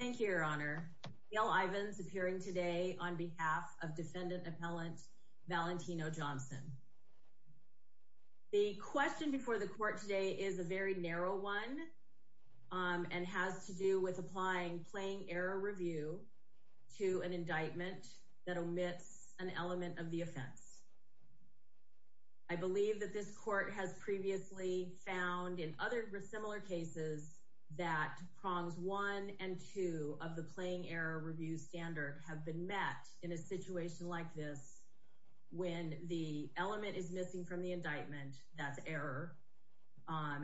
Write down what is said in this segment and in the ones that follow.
The question before the court today is a very narrow one and has to do with applying plain error review to an indictment that omits an element of the offense. I believe that this court has previously found in other similar cases that prongs one and two of the plain error review standard have been met in a situation like this when the element is missing from the indictment that's error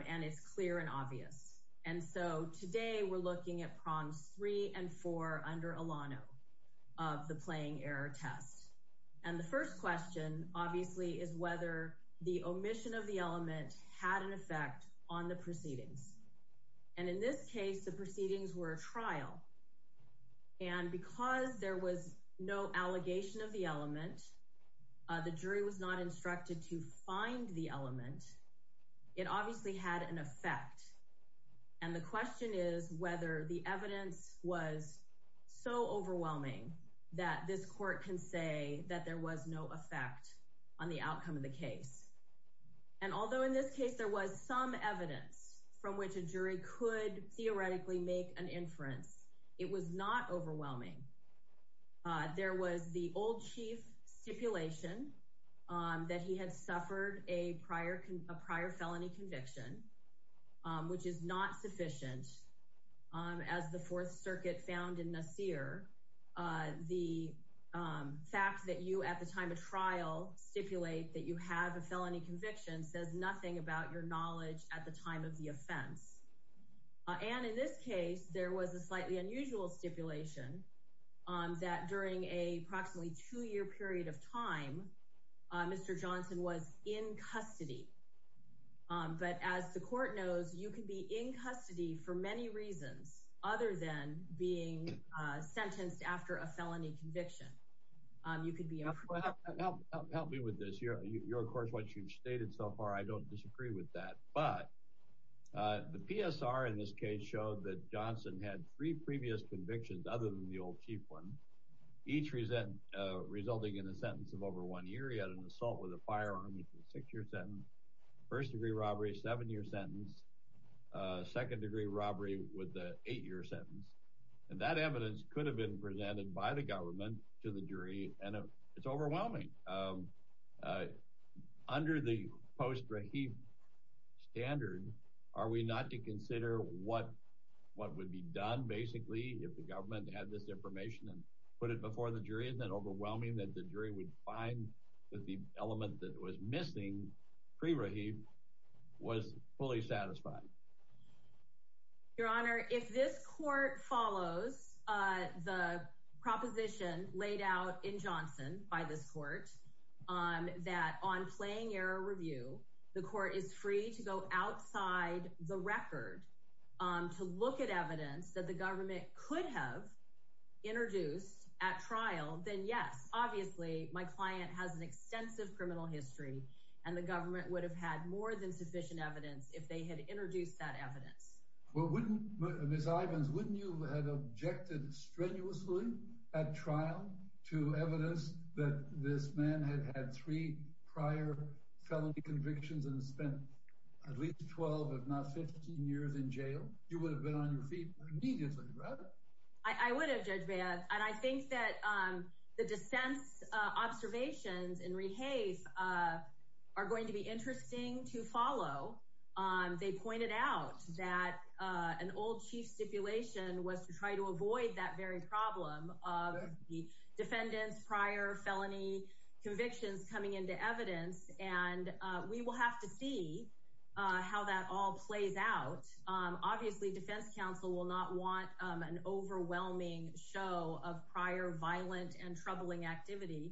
and it's clear and obvious. And so today we're looking at prongs three and four under Alano of the playing error test. And the first question obviously is whether the omission of the element had an effect on the proceedings. And in this case, the proceedings were a trial. And because there was no allegation of the element, the jury was not instructed to find the element. It obviously had an effect. And the question is whether the evidence was so overwhelming that this court can say that there was no effect on the outcome of the case. And although in this case there was some evidence from which a jury could theoretically make an inference, it was not overwhelming. There was the old chief stipulation that he had suffered a prior felony conviction, which is not sufficient. As the Fourth Circuit found in Nasir, the fact that you at the time of trial stipulate that you have a felony conviction says nothing about your knowledge at the time of the offense. And in this case, there was a slightly unusual stipulation that during a approximately two-year period of time, Mr. Johnson was in custody. But as the court knows, you can be in custody for many reasons other than being sentenced after a felony conviction. Help me with this. Of course, what you've stated so far, I don't disagree with that. But the PSR in this case showed that Johnson had three previous convictions other than the old chief one, each resulting in a sentence of over one year. He had an assault with a firearm with a six-year sentence, first-degree robbery, seven-year sentence, second-degree robbery with an eight-year sentence. And that evidence could have been presented by the government to the jury, and it's overwhelming. Under the post-Rahib standard, are we not to consider what would be done, basically, if the government had this information and put it before the jury? Isn't it overwhelming that the jury would find that the element that was missing pre-Rahib was fully satisfied? Your Honor, if this court follows the proposition laid out in Johnson by this court that on plain-error review, the court is free to go outside the record to look at evidence that the government could have introduced at trial, then yes. Obviously, my client has an extensive criminal history, and the government would have had more than sufficient evidence if they had introduced that evidence. Well, wouldn't – Ms. Ivins, wouldn't you have objected strenuously at trial to evidence that this man had had three prior felony convictions and spent at least 12, if not 15, years in jail? You would have been on your feet immediately, right? I would have, Judge Baird, and I think that the defense observations in Rehafe are going to be interesting to follow. They pointed out that an old chief stipulation was to try to avoid that very problem of the defendant's prior felony convictions coming into evidence, and we will have to see how that all plays out. Obviously, defense counsel will not want an overwhelming show of prior violent and troubling activity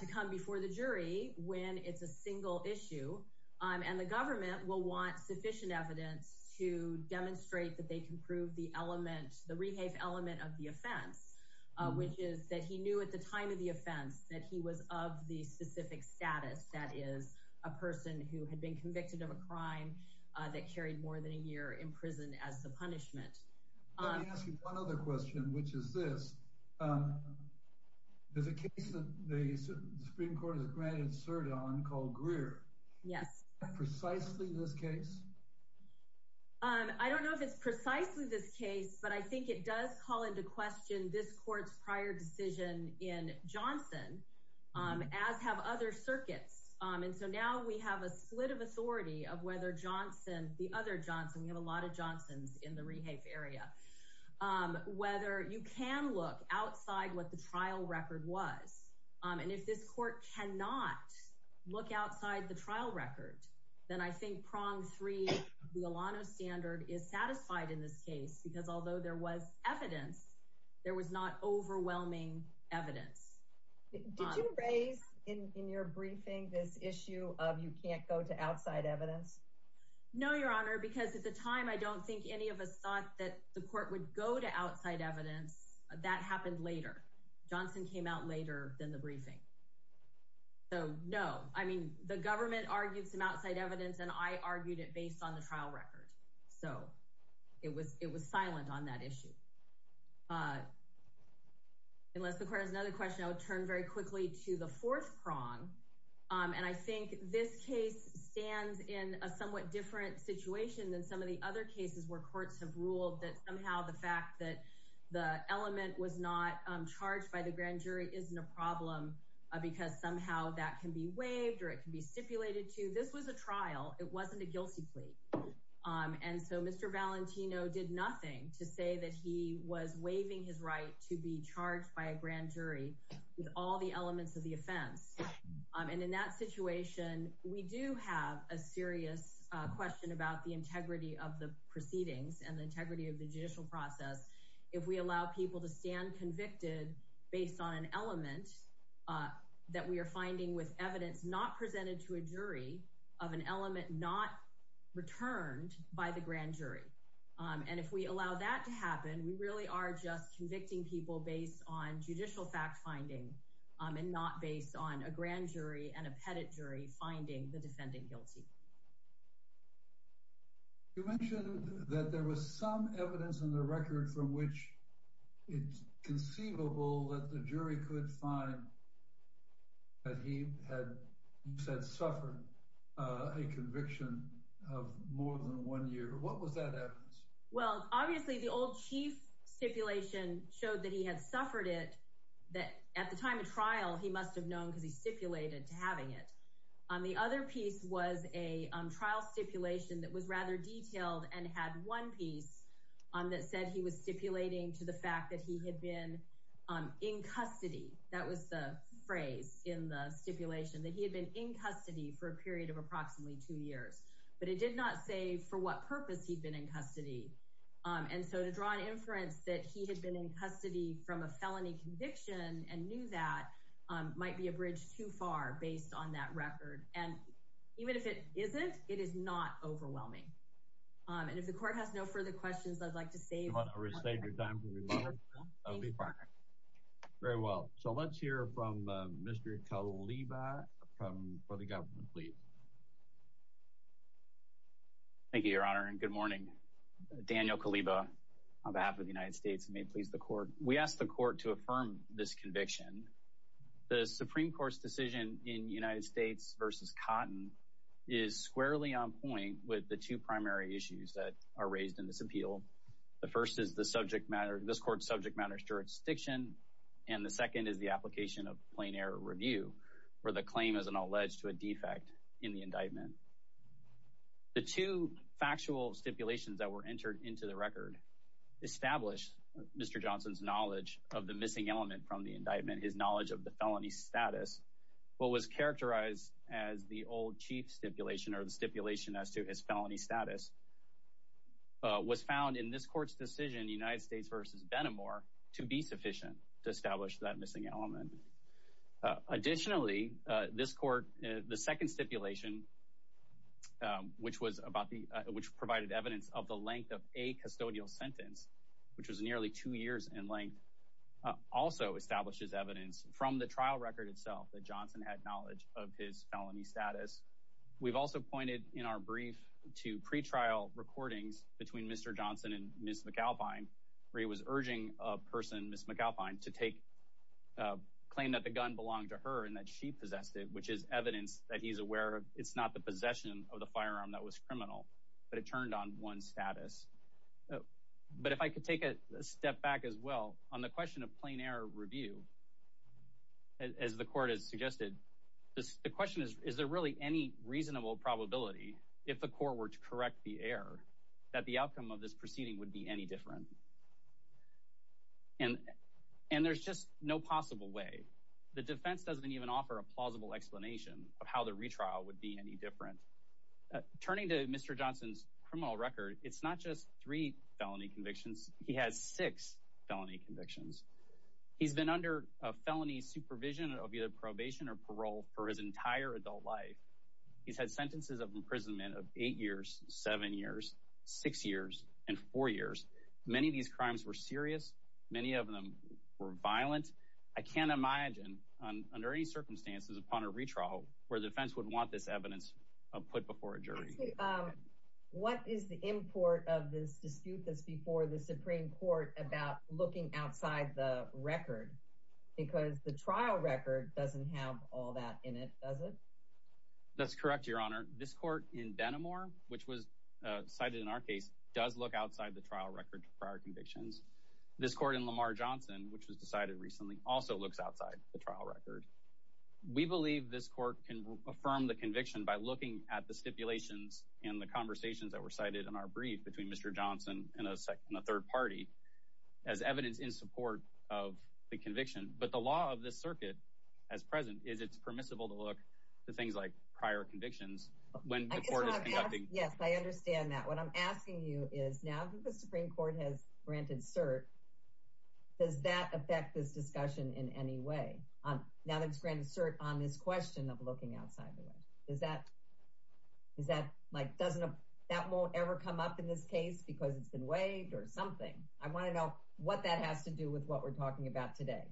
to come before the jury when it's a single issue, and the government will want sufficient evidence to demonstrate that they can prove the element – the Rehafe element of the offense, which is that he knew at the time of the offense that he was of the specific status, that is, a person who had been convicted of a crime that carried more than a year in prison as the punishment. Let me ask you one other question, which is this. There's a case that the Supreme Court has granted cert on called Greer. Yes. Is that precisely this case? I don't know if it's precisely this case, but I think it does call into question this court's prior decision in Johnson, as have other circuits. And so now we have a split of authority of whether Johnson – the other Johnson – we have a lot of Johnsons in the Rehafe area – whether you can look outside what the trial record was. And if this court cannot look outside the trial record, then I think prong three, the Alano standard, is satisfied in this case, because although there was evidence, there was not overwhelming evidence. Did you raise in your briefing this issue of you can't go to outside evidence? No, Your Honor, because at the time, I don't think any of us thought that the court would go to outside evidence. That happened later. Johnson came out later than the briefing. So, no. I mean, the government argued some outside evidence, and I argued it based on the trial record. So, it was silent on that issue. Unless the court has another question, I would turn very quickly to the fourth prong. And I think this case stands in a somewhat different situation than some of the other cases where courts have ruled that somehow the fact that the element was not charged by the grand jury isn't a problem because somehow that can be waived or it can be stipulated to. This was a trial. It wasn't a guilty plea. And so, Mr. Valentino did nothing to say that he was waiving his right to be charged by a grand jury with all the elements of the offense. And in that situation, we do have a serious question about the integrity of the proceedings and the integrity of the judicial process if we allow people to stand convicted based on an element that we are finding with evidence not presented to a jury of an element not returned by the grand jury. And if we allow that to happen, we really are just convicting people based on judicial fact-finding and not based on a grand jury and a pettit jury finding the defendant guilty. You mentioned that there was some evidence in the record from which it's conceivable that the jury could find that he had, you said, suffered a conviction of more than one year. What was that evidence? Well, obviously, the old chief stipulation showed that he had suffered it, that at the time of trial, he must have known because he stipulated to having it. The other piece was a trial stipulation that was rather detailed and had one piece that said he was stipulating to the fact that he had been in custody. That was the phrase in the stipulation, that he had been in custody for a period of approximately two years. But it did not say for what purpose he'd been in custody. And so to draw an inference that he had been in custody from a felony conviction and knew that might be a bridge too far based on that record. And even if it isn't, it is not overwhelming. And if the court has no further questions, I'd like to save your time. That would be fine. Very well. So let's hear from Mr. Caliba for the government, please. Thank you, Your Honor, and good morning. Daniel Caliba on behalf of the United States, and may it please the Court. We ask the Court to affirm this conviction. The Supreme Court's decision in United States v. Cotton is squarely on point with the two primary issues that are raised in this appeal. The first is this Court's subject matter jurisdiction. And the second is the application of plain error review for the claim as an alleged defect in the indictment. The two factual stipulations that were entered into the record established Mr. Johnson's knowledge of the missing element from the indictment. His knowledge of the felony status. What was characterized as the old chief stipulation or the stipulation as to his felony status. Was found in this Court's decision, United States v. Benamor, to be sufficient to establish that missing element. Additionally, this Court, the second stipulation, which provided evidence of the length of a custodial sentence, which was nearly two years in length, also establishes evidence from the trial record itself that Johnson had knowledge of his felony status. We've also pointed, in our brief, to pre-trial recordings between Mr. Johnson and Ms. McAlpine, where he was urging a person, Ms. McAlpine, to claim that the gun belonged to her and that she possessed it, which is evidence that he's aware it's not the possession of the firearm that was criminal, but it turned on one's status. But if I could take a step back as well, on the question of plain error review, as the Court has suggested, the question is, is there really any reasonable probability, if the Court were to correct the error, that the outcome of this proceeding would be any different? And there's just no possible way. The defense doesn't even offer a plausible explanation of how the retrial would be any different. Turning to Mr. Johnson's criminal record, it's not just three felony convictions, he has six felony convictions. He's been under felony supervision of either probation or parole for his entire adult life. He's had sentences of imprisonment of eight years, seven years, six years, and four years. Many of these crimes were serious, many of them were violent. I can't imagine, under any circumstances, upon a retrial, where the defense would want this evidence put before a jury. What is the import of this dispute that's before the Supreme Court about looking outside the record? Because the trial record doesn't have all that in it, does it? That's correct, Your Honor. This Court in Denimore, which was cited in our case, does look outside the trial record for our convictions. This Court in Lamar Johnson, which was decided recently, also looks outside the trial record. We believe this Court can affirm the conviction by looking at the stipulations and the conversations that were cited in our brief between Mr. Johnson and a third party as evidence in support of the conviction. But the law of this circuit, as present, is it's permissible to look at things like prior convictions when the Court is conducting... Yes, I understand that. What I'm asking you is, now that the Supreme Court has granted cert, does that affect this discussion in any way? Now that it's granted cert on this question of looking outside the record. Does that, like, that won't ever come up in this case because it's been waived or something? I want to know what that has to do with what we're talking about today.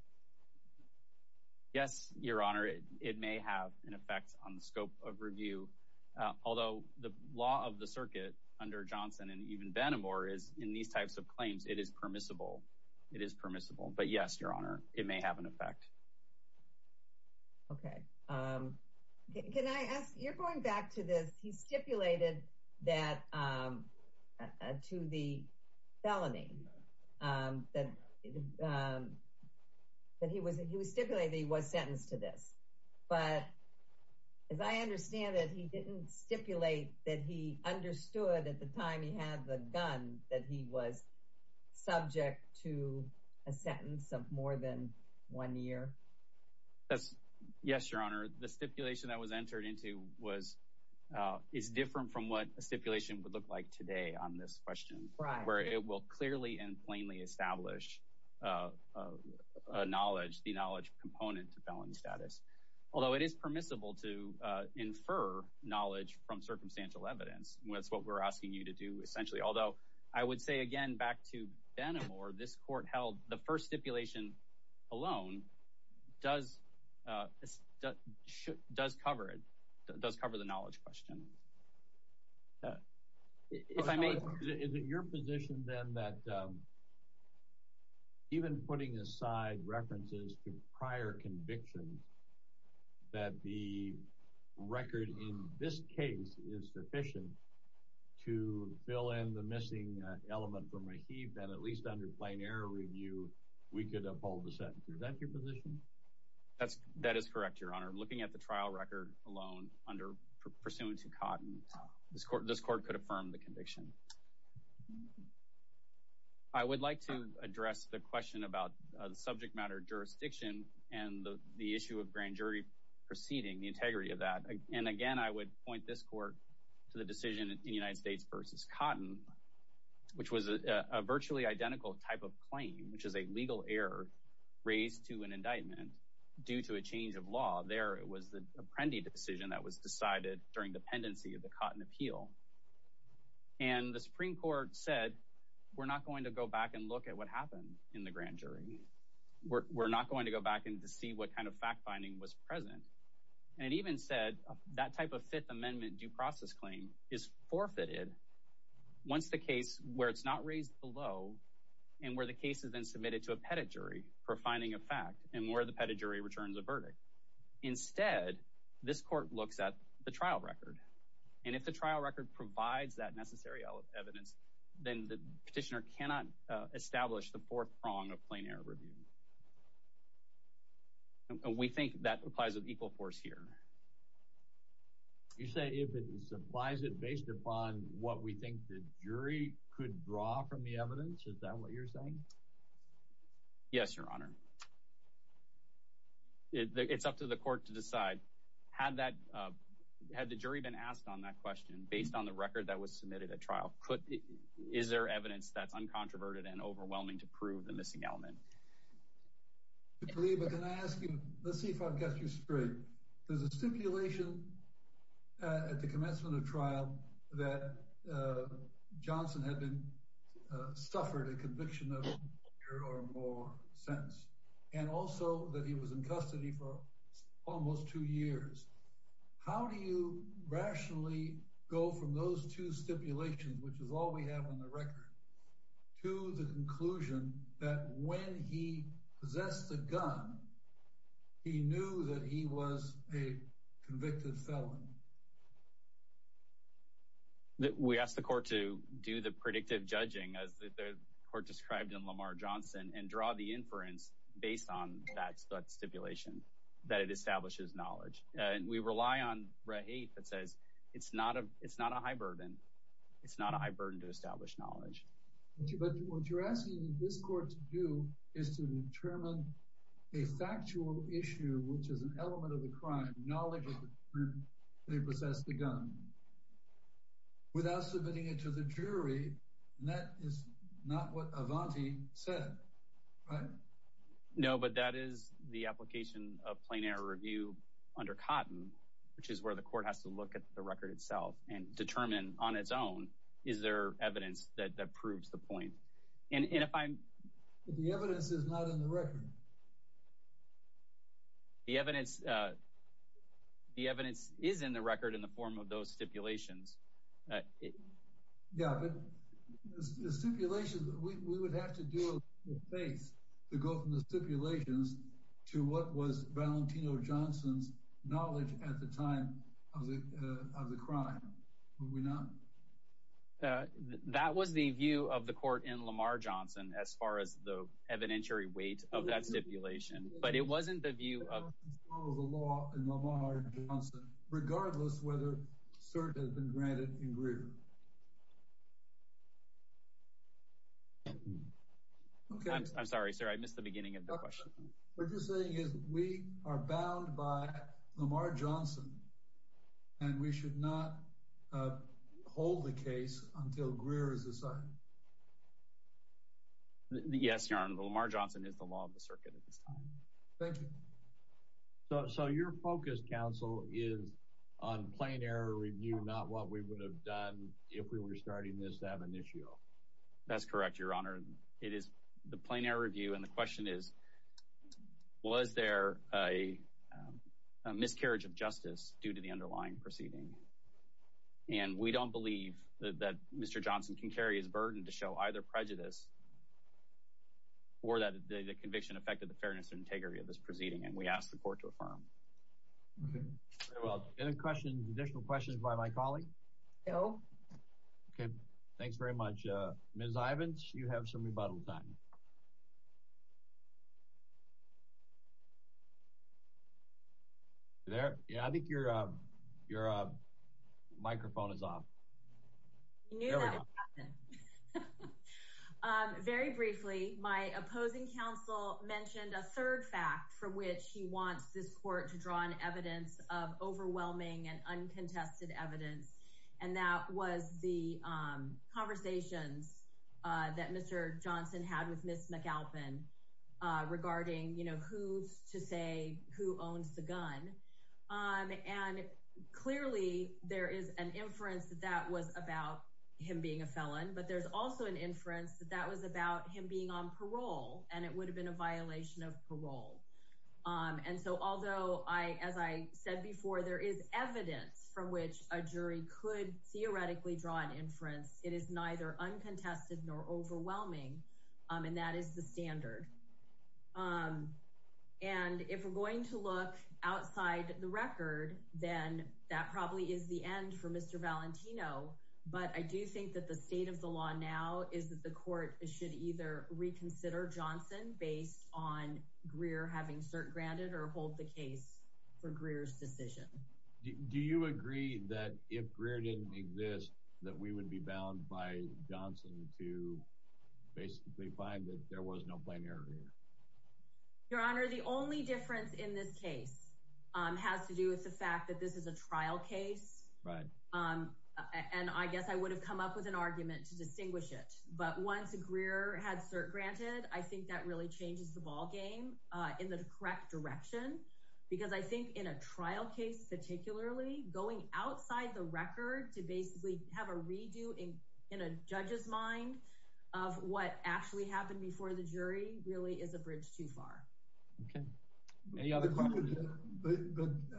Yes, Your Honor, it may have an effect on the scope of review. Although, the law of the circuit under Johnson and even Denimore is, in these types of claims, it is permissible. It is permissible. But yes, Your Honor, it may have an effect. Okay. Can I ask, you're going back to this. He stipulated that, to the felony, that he was stipulated that he was sentenced to this. But, as I understand it, he didn't stipulate that he understood at the time he had the gun that he was subject to a sentence of more than one year. Yes, Your Honor. The stipulation that was entered into was, is different from what a stipulation would look like today on this question. Right. Where it will clearly and plainly establish a knowledge, the knowledge component to felony status. Although, it is permissible to infer knowledge from circumstantial evidence. That's what we're asking you to do, essentially. Although, I would say again, back to Denimore, this court held the first stipulation alone does cover it, does cover the knowledge question. If I may... Is it your position, then, that even putting aside references to prior convictions, that the record in this case is sufficient to fill in the missing element from Rahib, that at least under plain error review, we could uphold the sentence? Is that your position? That is correct, Your Honor. Looking at the trial record alone, under pursuant to Cotton, this court could affirm the conviction. I would like to address the question about the subject matter jurisdiction and the issue of grand jury proceeding, the integrity of that. And again, I would point this court to the decision in the United States versus Cotton, which was a virtually identical type of claim, which is a legal error raised to an indictment due to a change of law. There, it was the Apprendi decision that was decided during the pendency of the Cotton appeal. And the Supreme Court said, we're not going to go back and look at what happened in the grand jury. We're not going to go back and see what kind of fact-finding was present. And it even said that type of Fifth Amendment due process claim is forfeited once the case, where it's not raised below, and where the case is then submitted to a pettit jury for finding a fact, and where the pettit jury returns a verdict. Instead, this court looks at the trial record. And if the trial record provides that necessary evidence, then the petitioner cannot establish the fourth prong of plain error review. And we think that applies with equal force here. You say if it applies it based upon what we think the jury could draw from the evidence, is that what you're saying? Yes, Your Honor. It's up to the court to decide. Had the jury been asked on that question, based on the record that was submitted at trial, is there evidence that's uncontroverted and overwhelming to prove the missing element? Let's see if I've got you straight. There's a stipulation at the commencement of trial that Johnson had suffered a conviction of a year or more since, and also that he was in custody for almost two years. How do you rationally go from those two stipulations, which is all we have on the record, to the conclusion that when he possessed the gun, he knew that he was a convicted felon? We asked the court to do the predictive judging, as the court described in Lamar Johnson, and draw the inference based on that stipulation, that it establishes knowledge. And we rely on RAH 8 that says it's not a high burden. It's not a high burden to establish knowledge. But what you're asking this court to do is to determine a factual issue, which is an element of the crime, knowledge of the crime, that he possessed the gun, without submitting it to the jury. And that is not what Avanti said, right? No, but that is the application of plain error review under Cotton, which is where the court has to look at the record itself and determine on its own, is there evidence that proves the point? But the evidence is not in the record. The evidence is in the record in the form of those stipulations. Yeah, but the stipulations, we would have to do a little space to go from the stipulations to what was Valentino Johnson's knowledge at the time of the crime, would we not? That was the view of the court in Lamar Johnson, as far as the evidentiary weight of that stipulation. That was the law in Lamar Johnson, regardless of whether cert has been granted in Greer. I'm sorry, sir. I missed the beginning of the question. What you're saying is we are bound by Lamar Johnson, and we should not hold the case until Greer is decided. Yes, Your Honor. Lamar Johnson is the law of the circuit at this time. Thank you. So your focus, counsel, is on plain error review, not what we would have done if we were starting this to have an issue. That's correct, Your Honor. It is the plain error review. And the question is, was there a miscarriage of justice due to the underlying proceeding? And we don't believe that Mr. Johnson can carry his burden to show either prejudice or that the conviction affected the fairness and integrity of this proceeding, and we ask the court to affirm. Very well. Any additional questions by my colleague? No. Okay. Thanks very much. Ms. Ivins, you have some rebuttal time. I think your microphone is off. Very briefly, my opposing counsel mentioned a third fact for which he wants this court to draw on evidence of overwhelming and uncontested evidence, and that was the conversations that Mr. Johnson had with Ms. McAlpin regarding, you know, who's to say who owns the gun. And clearly, there is an inference that that was about him being a felon, but there's also an inference that that was about him being on parole, and it would have been a violation of parole. And so although, as I said before, there is evidence from which a jury could theoretically draw an inference, it is neither uncontested nor overwhelming, and that is the standard. And if we're going to look outside the record, then that probably is the end for Mr. Valentino, but I do think that the state of the law now is that the court should either reconsider Johnson based on Greer having cert granted or hold the case for Greer's decision. Do you agree that if Greer didn't exist, that we would be bound by Johnson to basically find that there was no plenary? Your Honor, the only difference in this case has to do with the fact that this is a trial case. Right. And I guess I would have come up with an argument to distinguish it. But once Greer had cert granted, I think that really changes the ballgame in the correct direction, because I think in a trial case, particularly going outside the record to basically have a redo in a judge's mind of what actually happened before the jury really is a bridge too far. But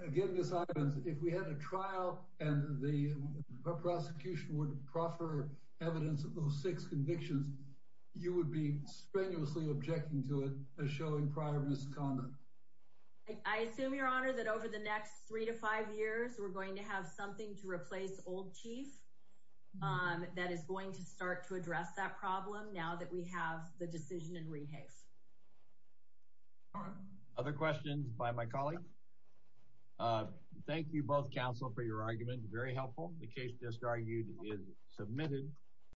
again, Ms. Ivins, if we had a trial and the prosecution would proffer evidence of those six convictions, you would be strenuously objecting to it as showing prior misconduct. I assume, Your Honor, that over the next three to five years, we're going to have something to replace old chief. That is going to start to address that problem now that we have the decision in Rehave. Other questions by my colleagues? Thank you both, counsel, for your argument. Very helpful. The case just argued is submitted.